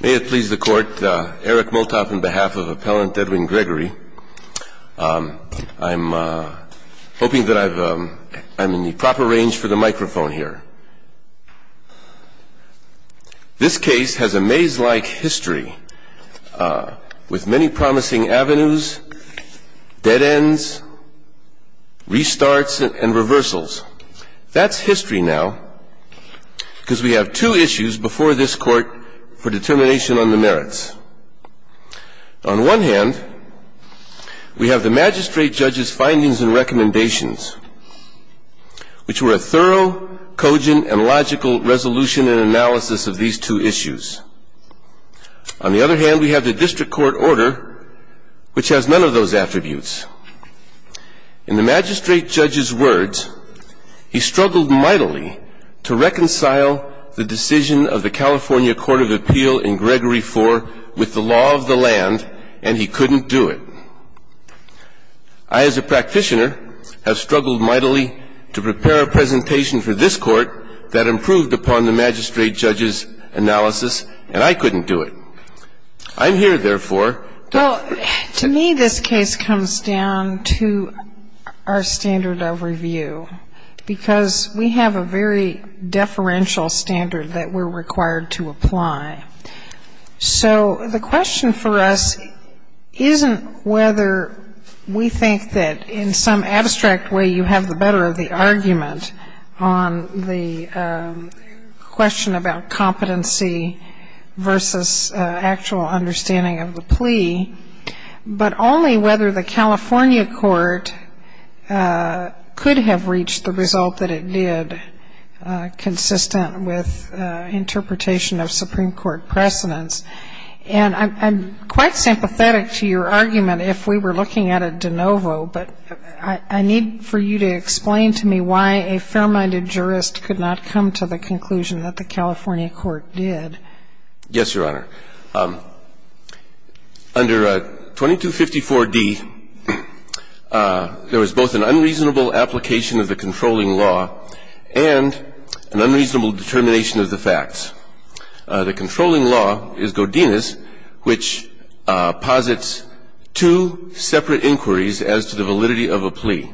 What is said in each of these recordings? May it please the court, Eric Moltoff on behalf of Appellant Edwin Gregory. I'm hoping that I'm in the proper range for the microphone here. This case has a maze-like history with many promising avenues, dead ends, restarts and reversals. That's history now because we have two issues before this court for determination on the merits. On one hand, we have the magistrate judge's findings and recommendations, which were a thorough, cogent and logical resolution and analysis of these two issues. On the other hand, we have the district court order, which has none of those attributes. In the magistrate judge's words, he struggled mightily to reconcile the decision of the California Court of Appeal in Gregory IV with the law of the land, and he couldn't do it. I, as a practitioner, have struggled mightily to prepare a presentation for this court that improved upon the magistrate judge's analysis, and I couldn't do it. I'm here, therefore. Well, to me, this case comes down to our standard of review, because we have a very deferential standard that we're required to apply. So the question for us isn't whether we think that in some abstract way you have the better of the argument on the question about competency versus actual understanding of the plea, but only whether the California court could have reached the result that it did, consistent with interpretation of Supreme Court precedents. And I'm quite sympathetic to your argument if we were looking at a de novo, but I need for you to explain to me why a fair-minded jurist could not come to the conclusion that the California court did. Yes, Your Honor. Under 2254d, there was both an unreasonable application of the controlling law and an unreasonable determination of the facts. The controlling law is Godinez, which posits two separate inquiries as to the validity of a plea.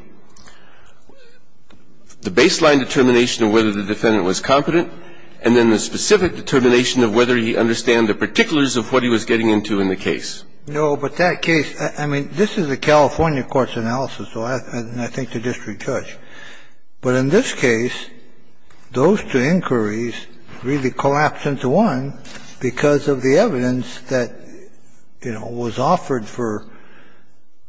The baseline determination of whether the defendant was competent and then the specific determination of whether he understood the particulars of what he was getting into in the case. No, but that case, I mean, this is a California court's analysis, and I think the district judge. But in this case, those two inquiries really collapsed into one because of the evidence that, you know, was offered for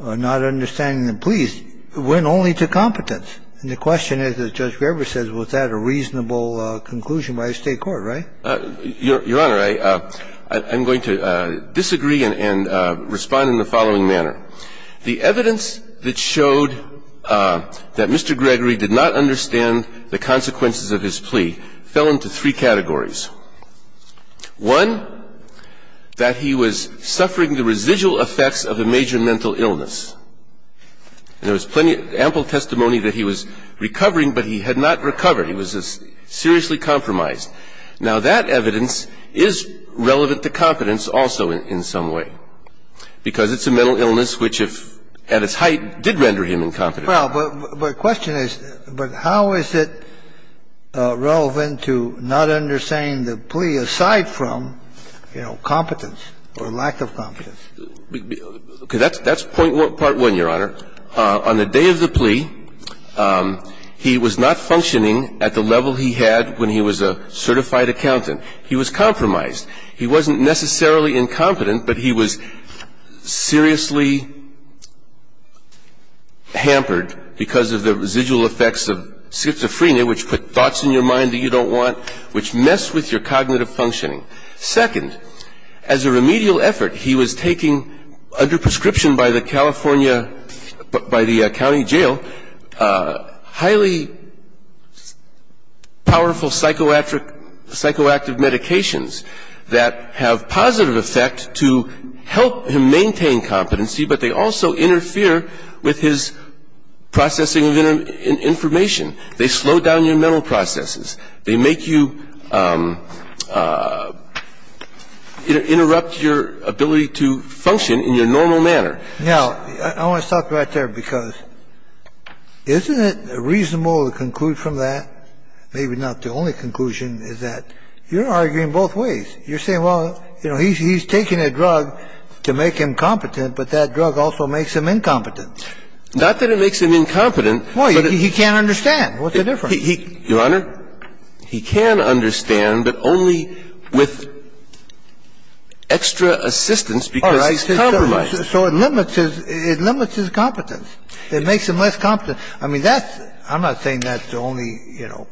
not understanding the pleas. It went only to competence. And the question is, as Judge Graber says, was that a reasonable conclusion by the State court, right? Your Honor, I'm going to disagree and respond in the following manner. The evidence that showed that Mr. Gregory did not understand the consequences of his plea fell into three categories. One, that he was suffering the residual effects of a major mental illness. And there was plenty of ample testimony that he was recovering, but he had not recovered. He was seriously compromised. Now, that evidence is relevant to competence also in some way, because it's a mental illness which, if at its height, did render him incompetent. Well, but the question is, but how is it relevant to not understanding the plea aside from, you know, competence or lack of competence? That's part one, Your Honor. On the day of the plea, he was not functioning at the level he had when he was a certified accountant. He was compromised. He wasn't necessarily incompetent, but he was seriously hampered because of the residual effects of schizophrenia, which put thoughts in your mind that you don't want, which mess with your cognitive functioning. Second, as a remedial effort, he was taking, under prescription by the California by the county jail, highly powerful psychoactive medications that have positive effect to help him maintain competency, but they also interfere with his processing of information. They slow down your mental processes. They make you interrupt your ability to function in your normal manner. Now, I want to stop right there because isn't it reasonable to conclude from that, maybe not the only conclusion, is that you're arguing both ways. You're saying, well, you know, he's taking a drug to make him competent, but that drug also makes him incompetent. Not that it makes him incompetent. Well, he can't understand. What's the difference? Your Honor, he can understand, but only with extra assistance because he's compromised. All right. So it limits his competence. It makes him less competent. I mean, that's the – I'm not saying that's the only, you know,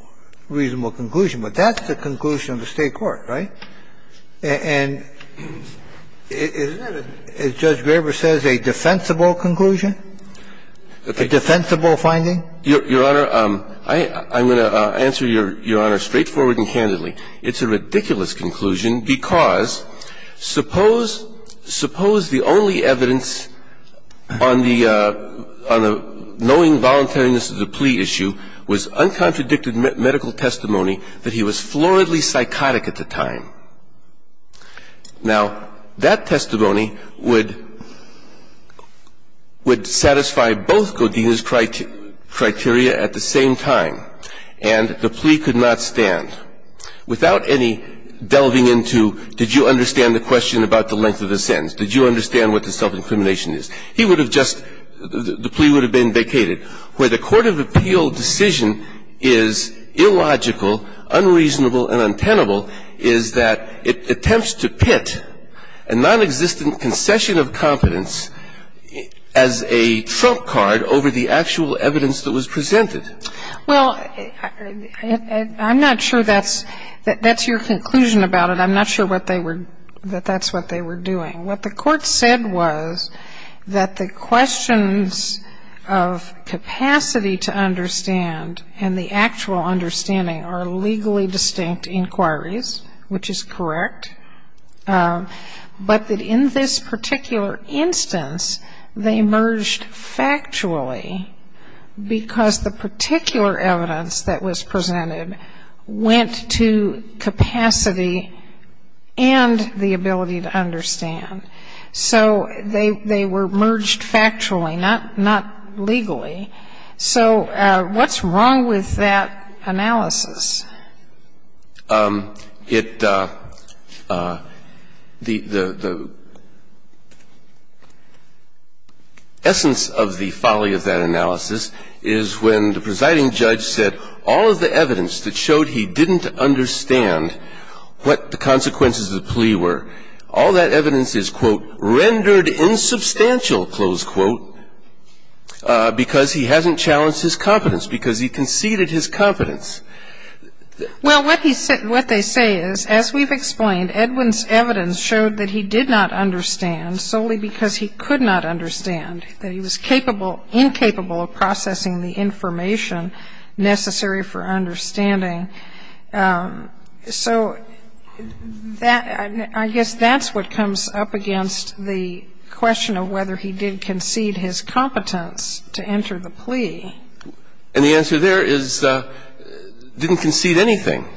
reasonable conclusion, but that's the conclusion of the State court, right? And isn't it, as Judge Graber says, a defensible conclusion, a defensible finding? Your Honor, I'm going to answer Your Honor straightforward and candidly. It's a ridiculous conclusion because suppose the only evidence on the knowing voluntariness of the plea issue was uncontradicted medical testimony that he was floridly psychotic at the time. Now, that testimony would satisfy both Godinez's criteria at the same time. And the plea could not stand without any delving into did you understand the question about the length of the sentence, did you understand what the self-incrimination is. He would have just – the plea would have been vacated. The only other evidence that can be presented where the court of appeal decision is illogical, unreasonable, and untenable is that it attempts to pit a nonexistent concession of competence as a trump card over the actual evidence that was presented. Well, I'm not sure that's your conclusion about it. I'm not sure what they were – that that's what they were doing. What the court said was that the questions of capacity to understand and the actual understanding are legally distinct inquiries, which is correct, but that in this particular instance they merged factually because the particular evidence that was presented was the evidence that was presented to the court. So they were merged factually, not legally. So what's wrong with that analysis? It – the essence of the folly of that analysis is when the presiding judge said all of the evidence is, quote, rendered insubstantial, close quote, because he hasn't challenged his competence, because he conceded his competence. Well, what he said – what they say is, as we've explained, Edwin's evidence showed that he did not understand solely because he could not understand, that he was capable – incapable of processing the information necessary for understanding. So that – I guess that's what comes up against the question of whether he did concede his competence to enter the plea. And the answer there is didn't concede anything.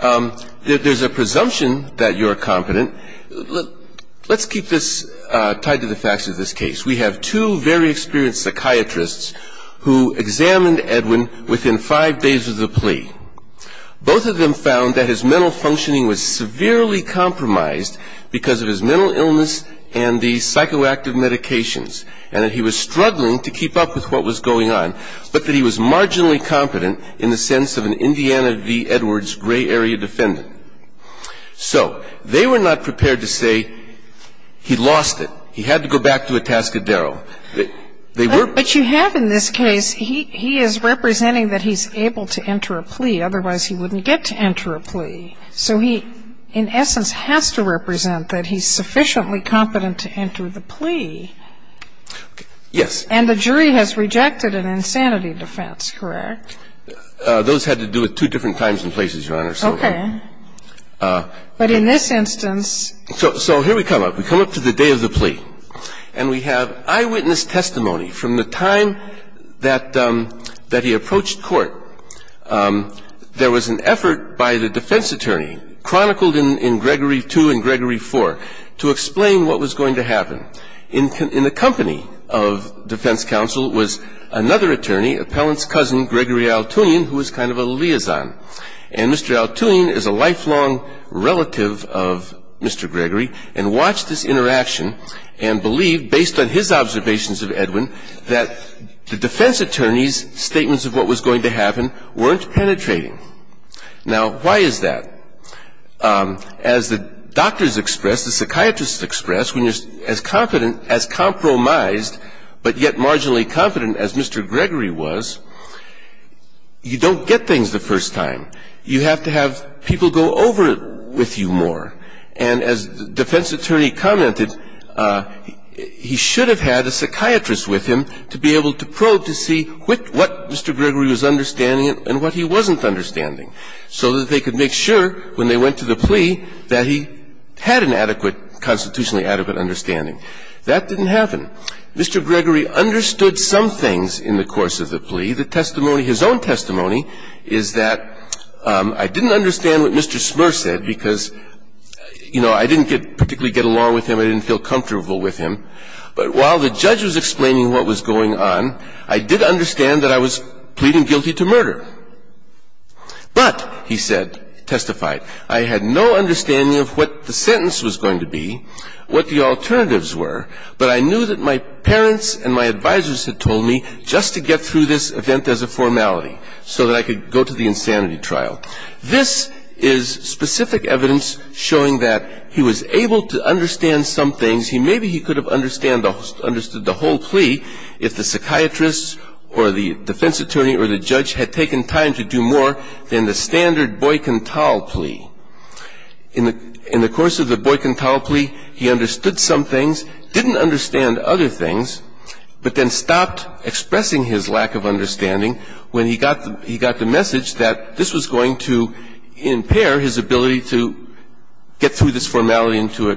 There's a presumption that you're competent. Let's keep this tied to the facts of this case. We have two very experienced psychiatrists who examined Edwin within five days of the trial. Both of them found that his mental functioning was severely compromised because of his mental illness and the psychoactive medications, and that he was struggling to keep up with what was going on, but that he was marginally competent in the sense of an Indiana v. Edwards gray area defendant. So they were not prepared to say he lost it. He had to go back to Atascadero. They were – But you have in this case, he is representing that he's able to enter a plea, otherwise he wouldn't get to enter a plea. So he in essence has to represent that he's sufficiently competent to enter the plea. Yes. And the jury has rejected an insanity defense, correct? Those had to do with two different times and places, Your Honor. Okay. But in this instance – So here we come up. We come up to the day of the plea. And we have eyewitness testimony from the time that he approached court. There was an effort by the defense attorney, chronicled in Gregory II and Gregory IV, to explain what was going to happen. In the company of defense counsel was another attorney, appellant's cousin, Gregory Altoonian, who was kind of a liaison. And Mr. Altoonian is a lifelong relative of Mr. Gregory and watched this interaction and believed, based on his observations of Edwin, that the defense attorney's statements of what was going to happen weren't penetrating. Now, why is that? As the doctors expressed, the psychiatrists expressed, when you're as competent, as compromised, but yet marginally competent as Mr. Gregory was, you don't get things the first time. You have to have people go over it with you more. And as the defense attorney commented, he should have had a psychiatrist with him to be able to probe to see what Mr. Gregory was understanding and what he wasn't understanding, so that they could make sure when they went to the plea that he had an adequate, constitutionally adequate understanding. That didn't happen. Mr. Gregory understood some things in the course of the plea. The testimony, his own testimony, is that, I didn't understand what Mr. Smurr said because, you know, I didn't particularly get along with him, I didn't feel comfortable with him, but while the judge was explaining what was going on, I did understand that I was pleading guilty to murder. But, he said, testified, I had no understanding of what the sentence was going to be, what the alternatives were, but I knew that my parents and my advisors had told me just to get through this event as a formality, so that I could go to the insanity trial. This is specific evidence showing that he was able to understand some things. Maybe he could have understood the whole plea if the psychiatrist or the defense attorney or the judge had taken time to do more than the standard Boyk-N-Tal plea. In the course of the Boyk-N-Tal plea, he understood some things, didn't understand other things, but then stopped expressing his lack of understanding when he got the message that this was going to impair his ability to get through this formality into a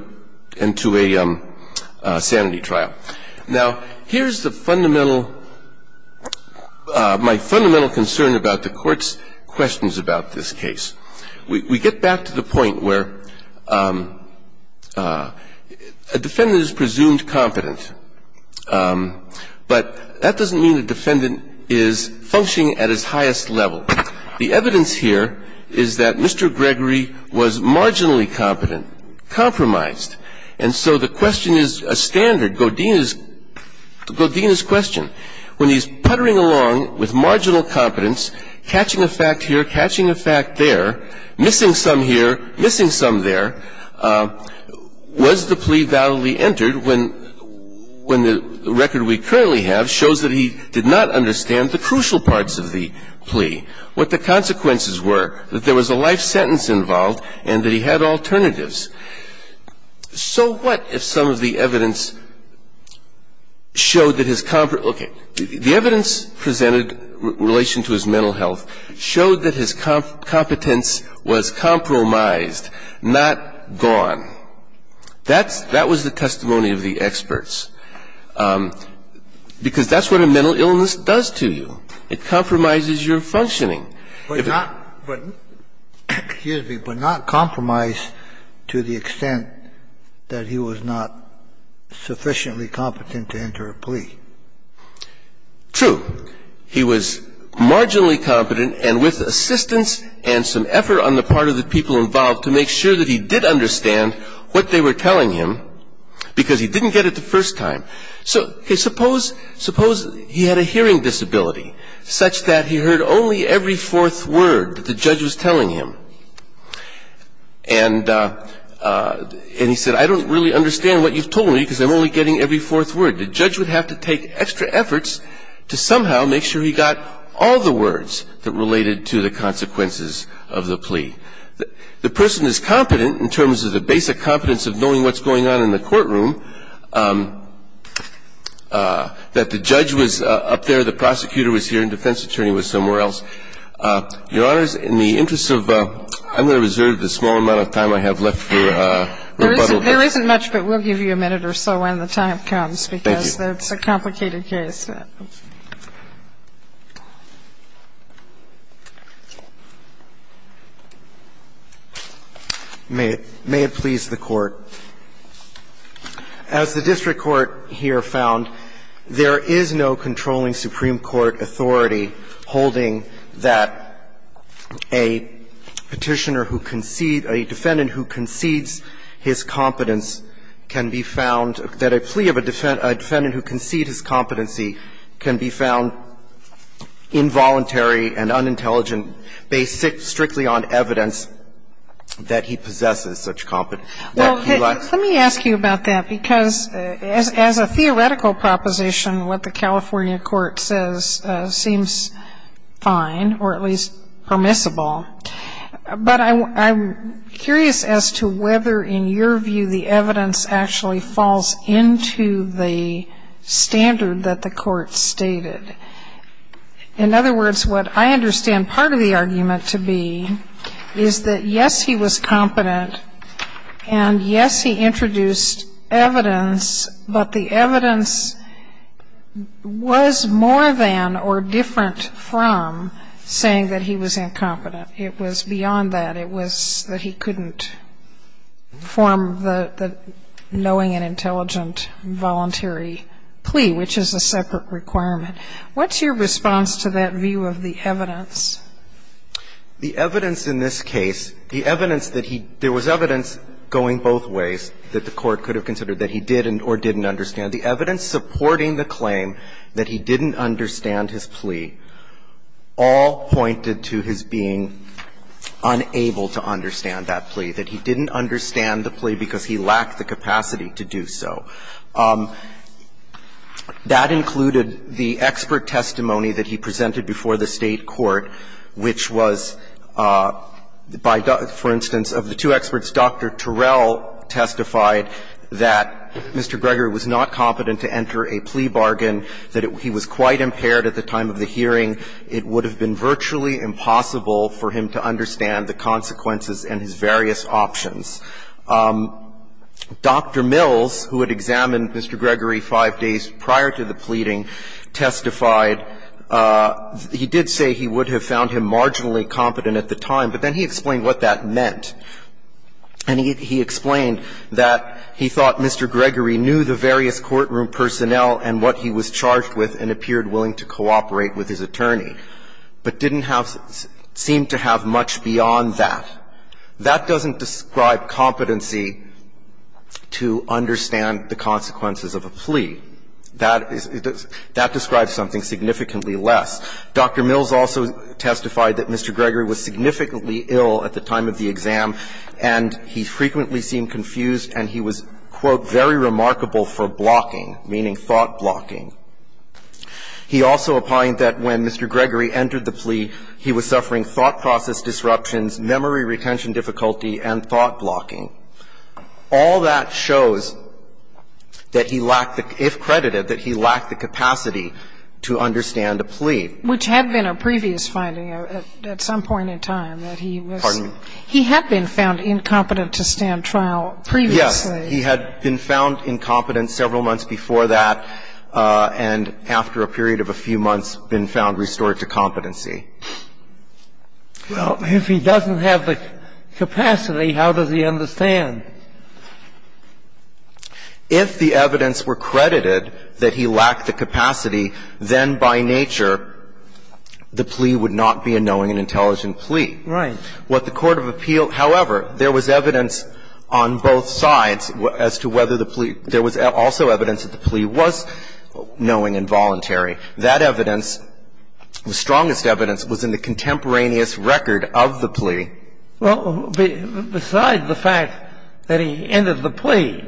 sanity trial. Now, here's the fundamental – my fundamental concern about the Court's questions about this case. We get back to the point where a defendant is presumed competent, but that doesn't mean a defendant is functioning at his highest level. The evidence here is that Mr. Gregory was marginally competent, compromised. And so the question is a standard, Godine's question. When he's puttering along with marginal competence, catching a fact here, catching a fact there, missing some here, missing some there, was the plea validly entered when the record we currently have shows that he did not understand the crucial parts of the plea, what the consequences were, that there was a life sentence involved and that he had alternatives. So what if some of the evidence showed that his – okay. The evidence presented in relation to his mental health showed that his competence was compromised, not gone. That's – that was the testimony of the experts. Because that's what a mental illness does to you. It compromises your functioning. If it's not – Kennedy, but not compromise to the extent that he was not sufficiently competent to enter a plea. True. He was marginally competent and with assistance and some effort on the part of the people involved to make sure that he did understand what they were telling him because he didn't get it the first time. So suppose he had a hearing disability such that he heard only every fourth word that the judge was telling him. And he said, I don't really understand what you've told me because I'm only getting every fourth word. The judge would have to take extra efforts to somehow make sure he got all the words that related to the consequences of the plea. The person is competent in terms of the basic competence of knowing what's going on in the courtroom, that the judge was up there, the prosecutor was here, and defense attorney was somewhere else. Your Honors, in the interest of – I'm going to reserve the small amount of time I have left for rebuttal. There isn't much, but we'll give you a minute or so when the time comes. Thank you. Because that's a complicated case. May it please the Court. As the district court here found, there is no controlling Supreme Court authority holding that a Petitioner who concedes – a defendant who concedes his competence can be found – that a plea of a defendant who concedes his competency can be found involuntary and unintelligent based strictly on evidence that he possesses such competence. Well, let me ask you about that, because as a theoretical proposition, what the California Court says seems fine, or at least permissible. But I'm curious as to whether, in your view, the evidence actually falls into the standard that the Court stated. In other words, what I understand part of the argument to be is that, yes, he was competent, and, yes, he introduced evidence, but the evidence was more than or different from saying that he was incompetent. It was beyond that. It was that he couldn't form the knowing and intelligent voluntary plea, which is a separate requirement. What's your response to that view of the evidence? The evidence in this case, the evidence that he – there was evidence going both ways that the Court could have considered that he did or didn't understand. The evidence supporting the claim that he didn't understand his plea all pointed to his being unable to understand that plea, that he didn't understand the plea because he lacked the capacity to do so. That included the expert testimony that he presented before the State court, which was, by – for instance, of the two experts, Dr. Terrell testified that Mr. Greger was not competent to enter a plea bargain, that he was quite impaired at the time of the hearing. It would have been virtually impossible for him to understand the consequences and his various options. Dr. Mills, who had examined Mr. Greger five days prior to the pleading, testified – he did say he would have found him marginally competent at the time, but then he explained what that meant. And he explained that he thought Mr. Greger knew the various courtroom personnel and what he was charged with and appeared willing to cooperate with his attorney, but didn't have – seemed to have much beyond that. That doesn't describe competency to understand the consequences of a plea. That is – that describes something significantly less. Dr. Mills also testified that Mr. Greger was significantly ill at the time of the exam, and he frequently seemed confused, and he was, quote, very remarkable for blocking, meaning thought-blocking. He also opined that when Mr. Greger entered the plea, he was suffering thought process disruptions, memory retention difficulty, and thought-blocking. All that shows that he lacked the – if credited, that he lacked the capacity to understand a plea. Which had been a previous finding at some point in time, that he was – Pardon me. He had been found incompetent to stand trial previously. Yes. He had been found incompetent several months before that, and after a period of a few months, been found restored to competency. Well, if he doesn't have the capacity, how does he understand? If the evidence were credited that he lacked the capacity, then by nature the plea would not be a knowing and intelligent plea. Right. What the court of appeal – however, there was evidence on both sides as to whether the plea – there was also evidence that the plea was knowing and voluntary. That evidence, the strongest evidence, was in the contemporaneous record of the plea. Well, besides the fact that he entered the plea,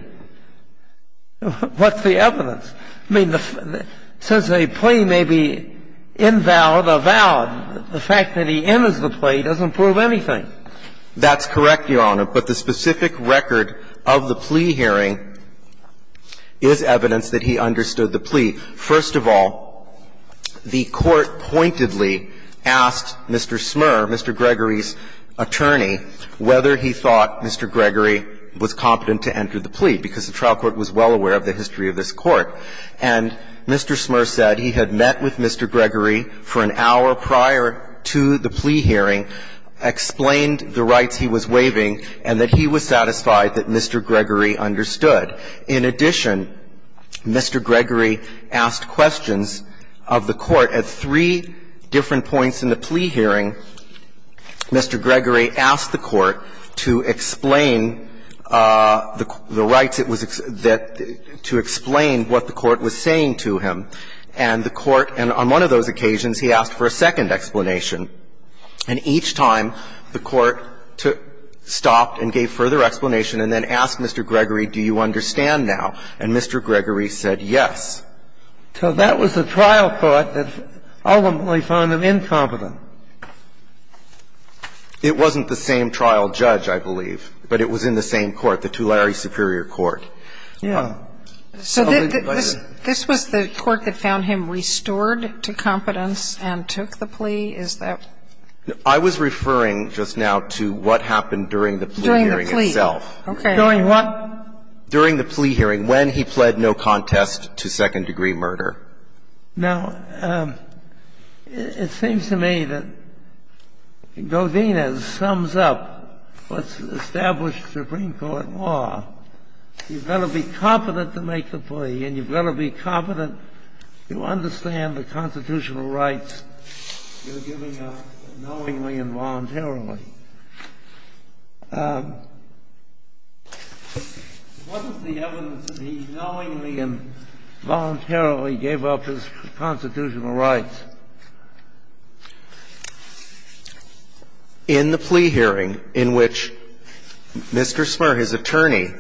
what's the evidence? I mean, since a plea may be invalid or valid, the fact that he enters the plea doesn't prove anything. That's correct, Your Honor. But the specific record of the plea hearing is evidence that he understood the plea. First of all, the court pointedly asked Mr. Smurr, Mr. Gregory's attorney, whether he thought Mr. Gregory was competent to enter the plea, because the trial court was well aware of the history of this court. And Mr. Smurr said he had met with Mr. Gregory for an hour prior to the plea hearing and that he was satisfied that Mr. Gregory understood. In addition, Mr. Gregory asked questions of the court at three different points in the plea hearing. Mr. Gregory asked the court to explain the rights it was – to explain what the court was saying to him. And the court – and on one of those occasions, he asked for a second explanation. And each time, the court stopped and gave further explanation and then asked Mr. Gregory, do you understand now? And Mr. Gregory said yes. So that was the trial court that ultimately found him incompetent. It wasn't the same trial judge, I believe, but it was in the same court, the Tulare Superior Court. Yeah. Sotomayor, did you have a comment on the plea hearing itself, or did you have a comment on the plea hearing itself? I was referring just now to what happened during the plea hearing itself. During the plea. Okay. During what? During the plea hearing when he pled no contest to second-degree murder. Now, it seems to me that Godinez sums up what's established in the Supreme Court, and that's that you've got to be competent to make the plea, and you've got to be competent to understand the constitutional rights you're giving up knowingly and voluntarily. What is the evidence that he knowingly and voluntarily gave up his constitutional rights? In the plea hearing in which Mr. Smurr, his attorney,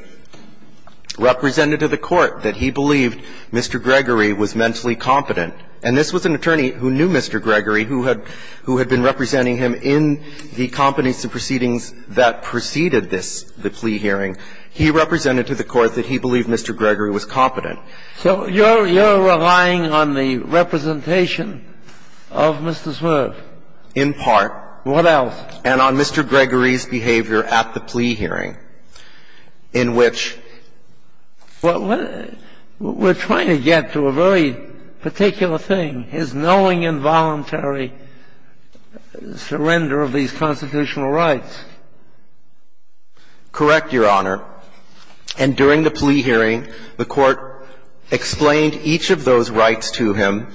represented to the court that he believed Mr. Gregory was mentally competent, and this was an attorney who knew Mr. Gregory, who had been representing him in the competence of proceedings that preceded this, the plea hearing. He represented to the court that he believed Mr. Gregory was competent. So you're relying on the representation of Mr. Smurr? In part. What else? And on Mr. Gregory's behavior at the plea hearing, in which we're trying to get to a very particular thing, his knowingly and voluntarily surrender of these constitutional rights. Correct, Your Honor. And during the plea hearing, the Court explained each of those rights to him,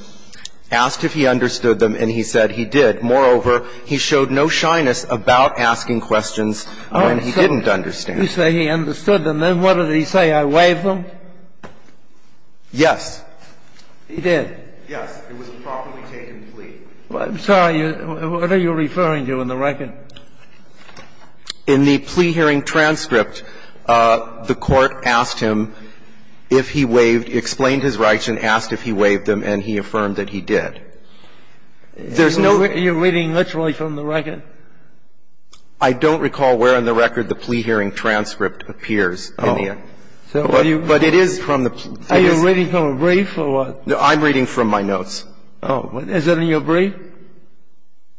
asked if he understood them, and he said he did. Moreover, he showed no shyness about asking questions when he didn't understand. You say he understood them. Then what did he say? I waive them? Yes. He did? Yes. It was a properly taken plea. I'm sorry. What are you referring to in the record? In the plea hearing transcript, the Court asked him if he waived, explained his rights and asked if he waived them, and he affirmed that he did. There's no other. Are you reading literally from the record? I don't recall where in the record the plea hearing transcript appears, India. But it is from the plea. Are you reading from a brief or what? I'm reading from my notes. Oh. Is it in your brief?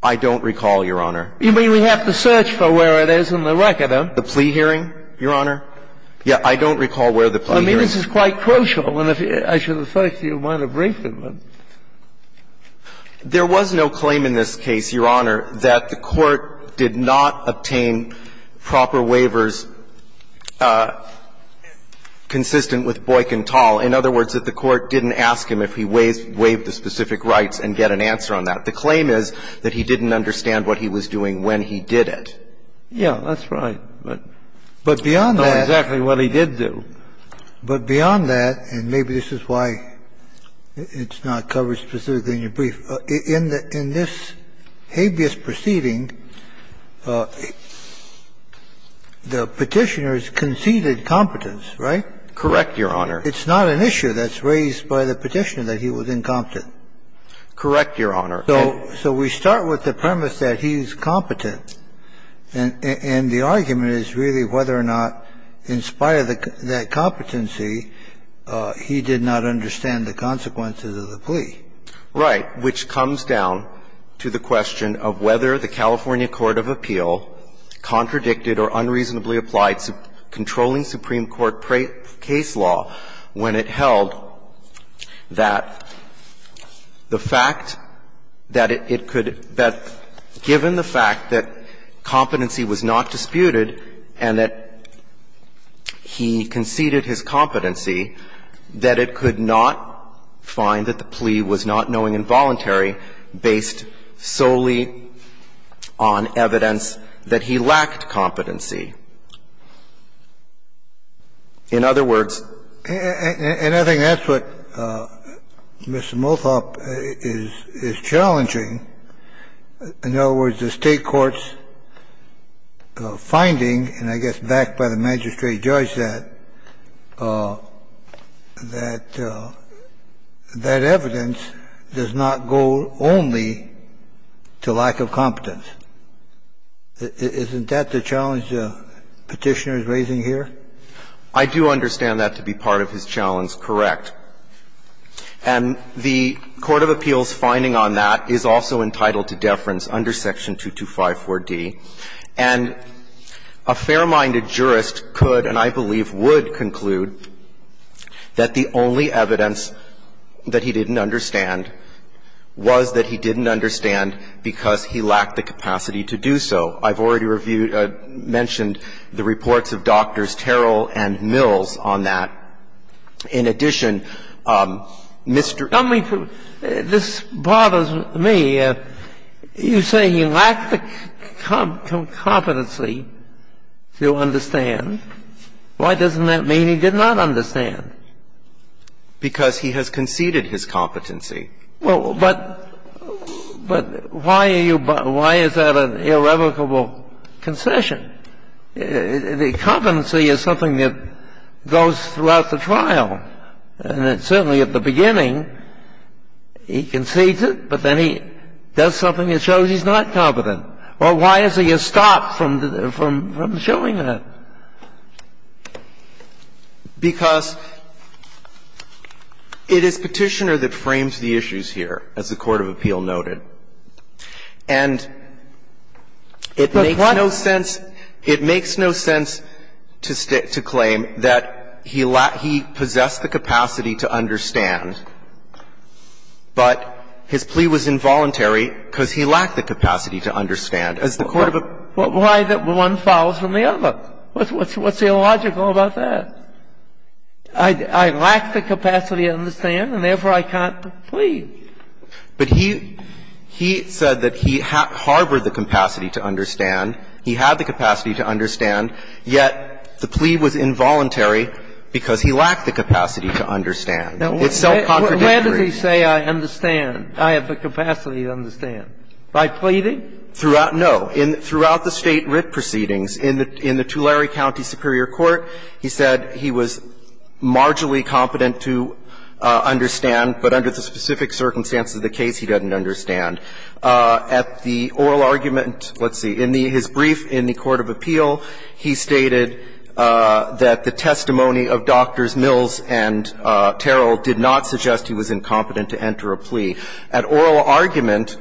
I don't recall, Your Honor. You mean we have to search for where it is in the record, huh? The plea hearing, Your Honor. Yes. I don't recall where the plea hearing is. I mean, this is quite crucial. I should have searched if you want a brief. There was no claim in this case, Your Honor, that the Court did not obtain proper waivers consistent with Boyk and Tal. In other words, that the Court didn't ask him if he waived the specific rights and get an answer on that. The claim is that he didn't understand what he was doing when he did it. Yes, that's right. But beyond that. I don't know exactly what he did do. But beyond that, and maybe this is why it's not covered specifically in your brief, in this habeas proceeding, the Petitioner's conceded competence, right? Correct, Your Honor. It's not an issue that's raised by the Petitioner that he was incompetent. Correct, Your Honor. So we start with the premise that he's competent, and the argument is really whether or not, in spite of that competency, he did not understand the consequences of the plea. Right. Which comes down to the question of whether the California court of appeal contradicted or unreasonably applied controlling Supreme Court case law when it held that the fact that it could bet, given the fact that competency was not disputed and that he conceded his competency, that it could not find that the plea was not knowing involuntary based solely on evidence that he lacked competency. In other words ---- And I think that's what Mr. Mothoff is challenging. In other words, the State court's finding, and I guess backed by the magistrate judge that, that that evidence does not go only to lack of competence. Isn't that the challenge the Petitioner is raising here? I do understand that to be part of his challenge, correct. And the court of appeal's finding on that is also entitled to deference under section 2254d. And a fair-minded jurist could and I believe would conclude that the only evidence that he didn't understand was that he didn't understand because he lacked the capacity to do so. I've already reviewed, mentioned the reports of Drs. Terrell and Mills on that. In addition, Mr. ---- This bothers me. You say he lacked the competency to understand. Why doesn't that mean he did not understand? Because he has conceded his competency. Well, but why are you by why is that an irrevocable concession? The competency is something that goes throughout the trial. And certainly at the beginning, he concedes it, but then he does something that shows he's not competent. Well, why is he stopped from showing that? Because it is Petitioner that frames the issues here, as the court of appeal noted. And it makes no sense to claim that he possessed the capacity to understand, but his plea was involuntary because he lacked the capacity to understand. As the court of appeal. What's illogical about that? I lack the capacity to understand, and therefore I can't plead. But he said that he harbored the capacity to understand. He had the capacity to understand, yet the plea was involuntary because he lacked the capacity to understand. It's self-contradictory. Now, where does he say I understand, I have the capacity to understand? By pleading? No. Throughout the State writ proceedings, in the Tulare County Superior Court, he said he was marginally competent to understand, but under the specific circumstances of the case, he doesn't understand. At the oral argument, let's see, in his brief in the court of appeal, he stated that the testimony of Drs. Mills and Terrell did not suggest he was incompetent to enter a plea. At oral argument,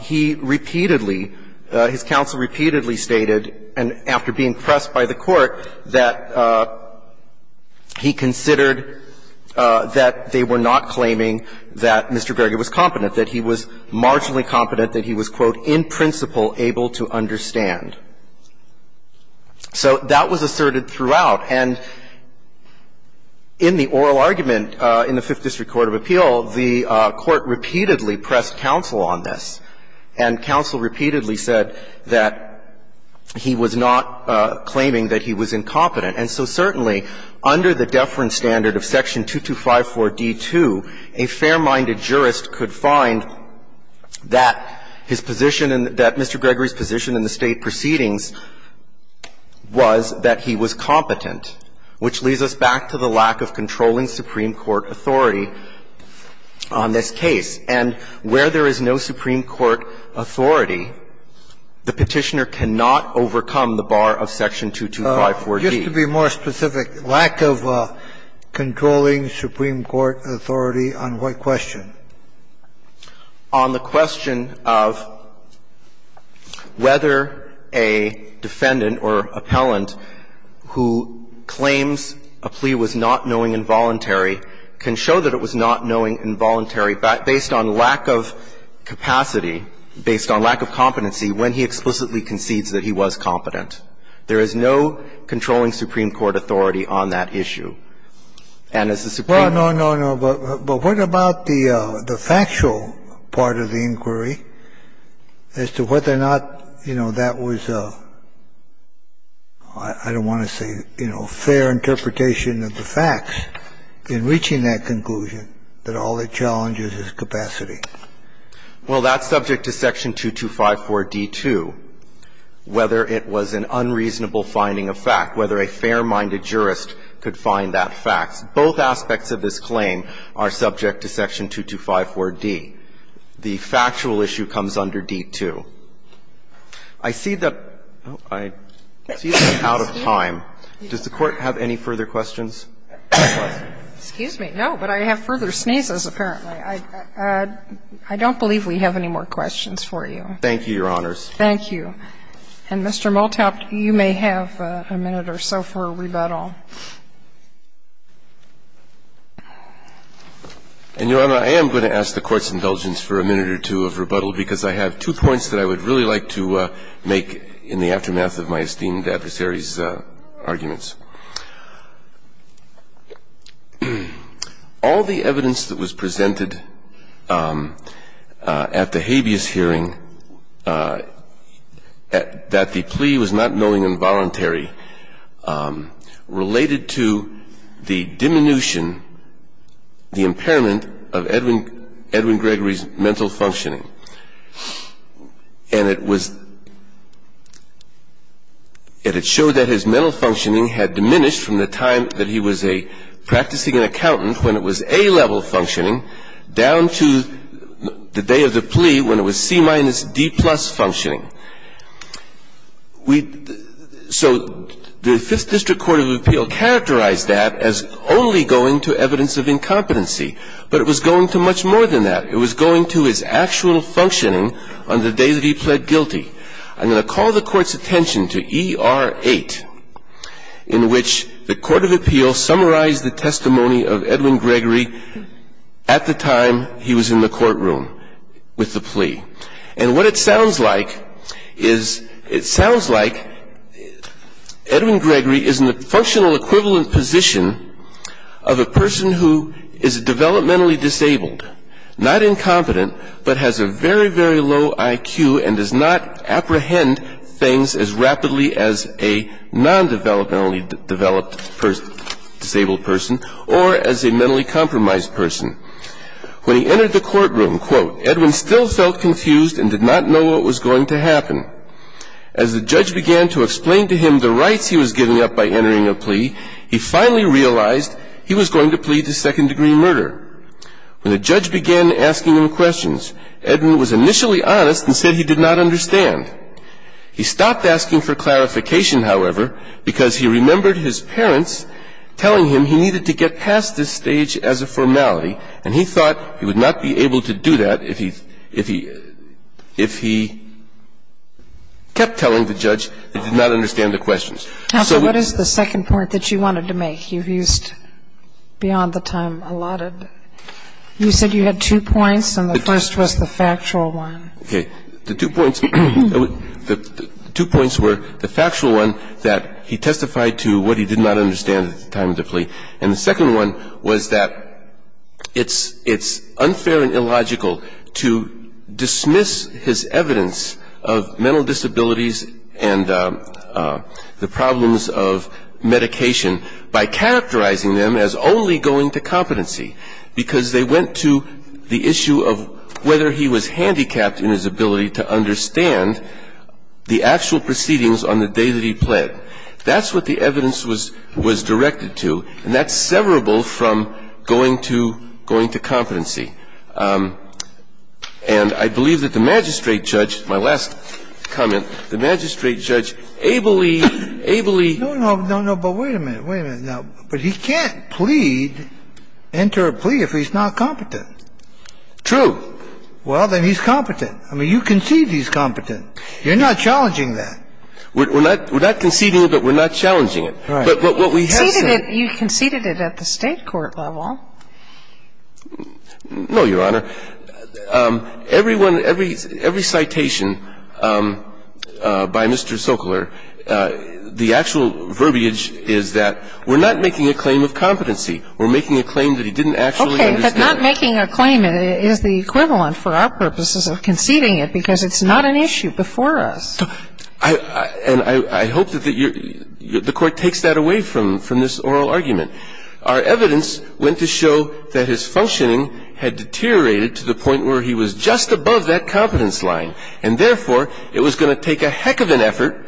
he repeatedly, his counsel repeatedly stated, and after being pressed by the court, that he considered that they were not claiming that Mr. Greger was competent, that he was marginally competent, that he was, quote, in principle able to understand. So that was asserted throughout. And in the oral argument in the Fifth District Court of Appeal, the court repeatedly pressed counsel on this, and counsel repeatedly said that he was not claiming that he was incompetent. And so certainly, under the deference standard of Section 2254d2, a fair-minded jurist could find that his position and that Mr. Gregory's position in the State Proceedings was that he was competent, which leads us back to the lack of controlling Supreme Court authority on this case. And where there is no Supreme Court authority, the Petitioner cannot overcome the bar of Section 2254d. Sotomayor, used to be more specific, lack of controlling Supreme Court authority on what question? On the question of whether a defendant or appellant who claims a plea was not knowing involuntary can show that it was not knowing involuntary based on lack of capacity, based on lack of competency, when he explicitly concedes that he was competent. There is no controlling Supreme Court authority on that issue. The factual part of the inquiry as to whether or not, you know, that was a, I don't want to say, you know, fair interpretation of the facts, in reaching that conclusion, that all it challenges is capacity. Well, that's subject to Section 2254d2, whether it was an unreasonable finding of fact, whether a fair-minded jurist could find that fact. Both aspects of this claim are subject to Section 2254d. The factual issue comes under d2. I see that I'm out of time. Does the Court have any further questions? Excuse me. No, but I have further sneezes, apparently. I don't believe we have any more questions for you. Thank you, Your Honors. Thank you. And, Mr. Moultaup, you may have a minute or so for rebuttal. And, Your Honor, I am going to ask the Court's indulgence for a minute or two of rebuttal, because I have two points that I would really like to make in the aftermath of my esteemed adversary's arguments. All the evidence that was presented at the habeas hearing that the plea was not knowing involuntary related to the diminution, the impairment, of Edwin Gregory's mental functioning. And it showed that his mental functioning had diminished from the time that he was a practicing accountant, when it was A-level functioning, down to the day of the plea, when it was C minus D plus functioning. So the Fifth District Court of Appeal characterized that as only going to evidence of incompetency, but it was going to much more than that. It was going to his actual functioning on the day that he pled guilty. I'm going to call the Court's attention to E.R. 8, in which the Court of Appeal summarized the testimony of Edwin Gregory at the time he was in the courtroom with the plea. And what it sounds like is, it sounds like Edwin Gregory is in the functional equivalent position of a person who is developmentally disabled, not incompetent, but has a very, very low IQ and does not apprehend things as rapidly as a non-developmentally developed person, disabled person, or as a mentally compromised person. When he entered the courtroom, quote, Edwin still felt confused and did not know what was going to happen. As the judge began to explain to him the rights he was giving up by entering a plea, he finally realized he was going to plead to second degree murder. When the judge began asking him questions, Edwin was initially honest and said he did not understand. He stopped asking for clarification, however, because he remembered his parents telling him he needed to get past this stage as a formality, and he thought he would not be able to do that if he kept telling the judge he did not understand the questions. So what is the second point that you wanted to make? You've used beyond the time allotted. You said you had two points, and the first was the factual one. Okay. The two points were the factual one, that he testified to what he did not understand at the time of the plea. And the second one was that it's unfair and illogical to dismiss his evidence of mental disabilities and the problems of medication by characterizing them as only going to competency, because they went to the issue of whether he was handicapped in his ability to understand the actual proceedings on the day that he pled. That's what the evidence was directed to, and that's severable from going to competency. And I believe that the magistrate judge, my last comment, the magistrate judge ably, ably. No, no, but wait a minute. Wait a minute. But he can't plead, enter a plea, if he's not competent. True. Well, then he's competent. I mean, you conceived he's competent. You're not challenging that. We're not conceding it, but we're not challenging it. Right. But what we have said You conceded it at the State court level. No, Your Honor. Everyone, every citation by Mr. Sokler, the actual verbiage is that we're not making a claim of competency, we're making a claim that he didn't actually understand. Okay, but not making a claim is the equivalent for our purposes of conceding it, because it's not an issue before us. And I hope that the court takes that away from this oral argument. Our evidence went to show that his functioning had deteriorated to the point where he was just above that competence line. And therefore, it was going to take a heck of an effort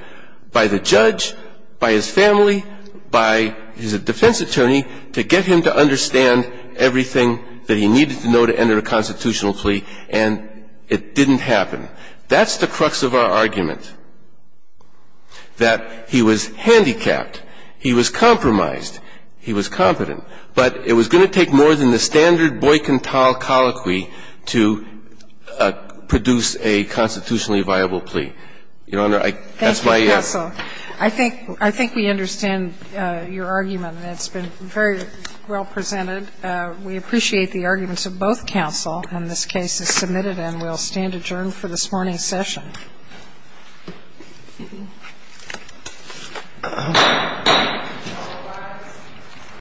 by the judge, by his family, by his defense attorney, to get him to understand everything that he needed to know to enter a constitutional plea. And it didn't happen. That's the crux of our argument, that he was handicapped, he was compromised, he was competent. But it was going to take more than the standard Boyk-N-Tal colloquy to produce a constitutionally viable plea. Your Honor, I That's my answer. Thank you, counsel. I think we understand your argument, and it's been very well presented. We appreciate the arguments of both counsel, and this case is submitted and will stand adjourned for this morning's session.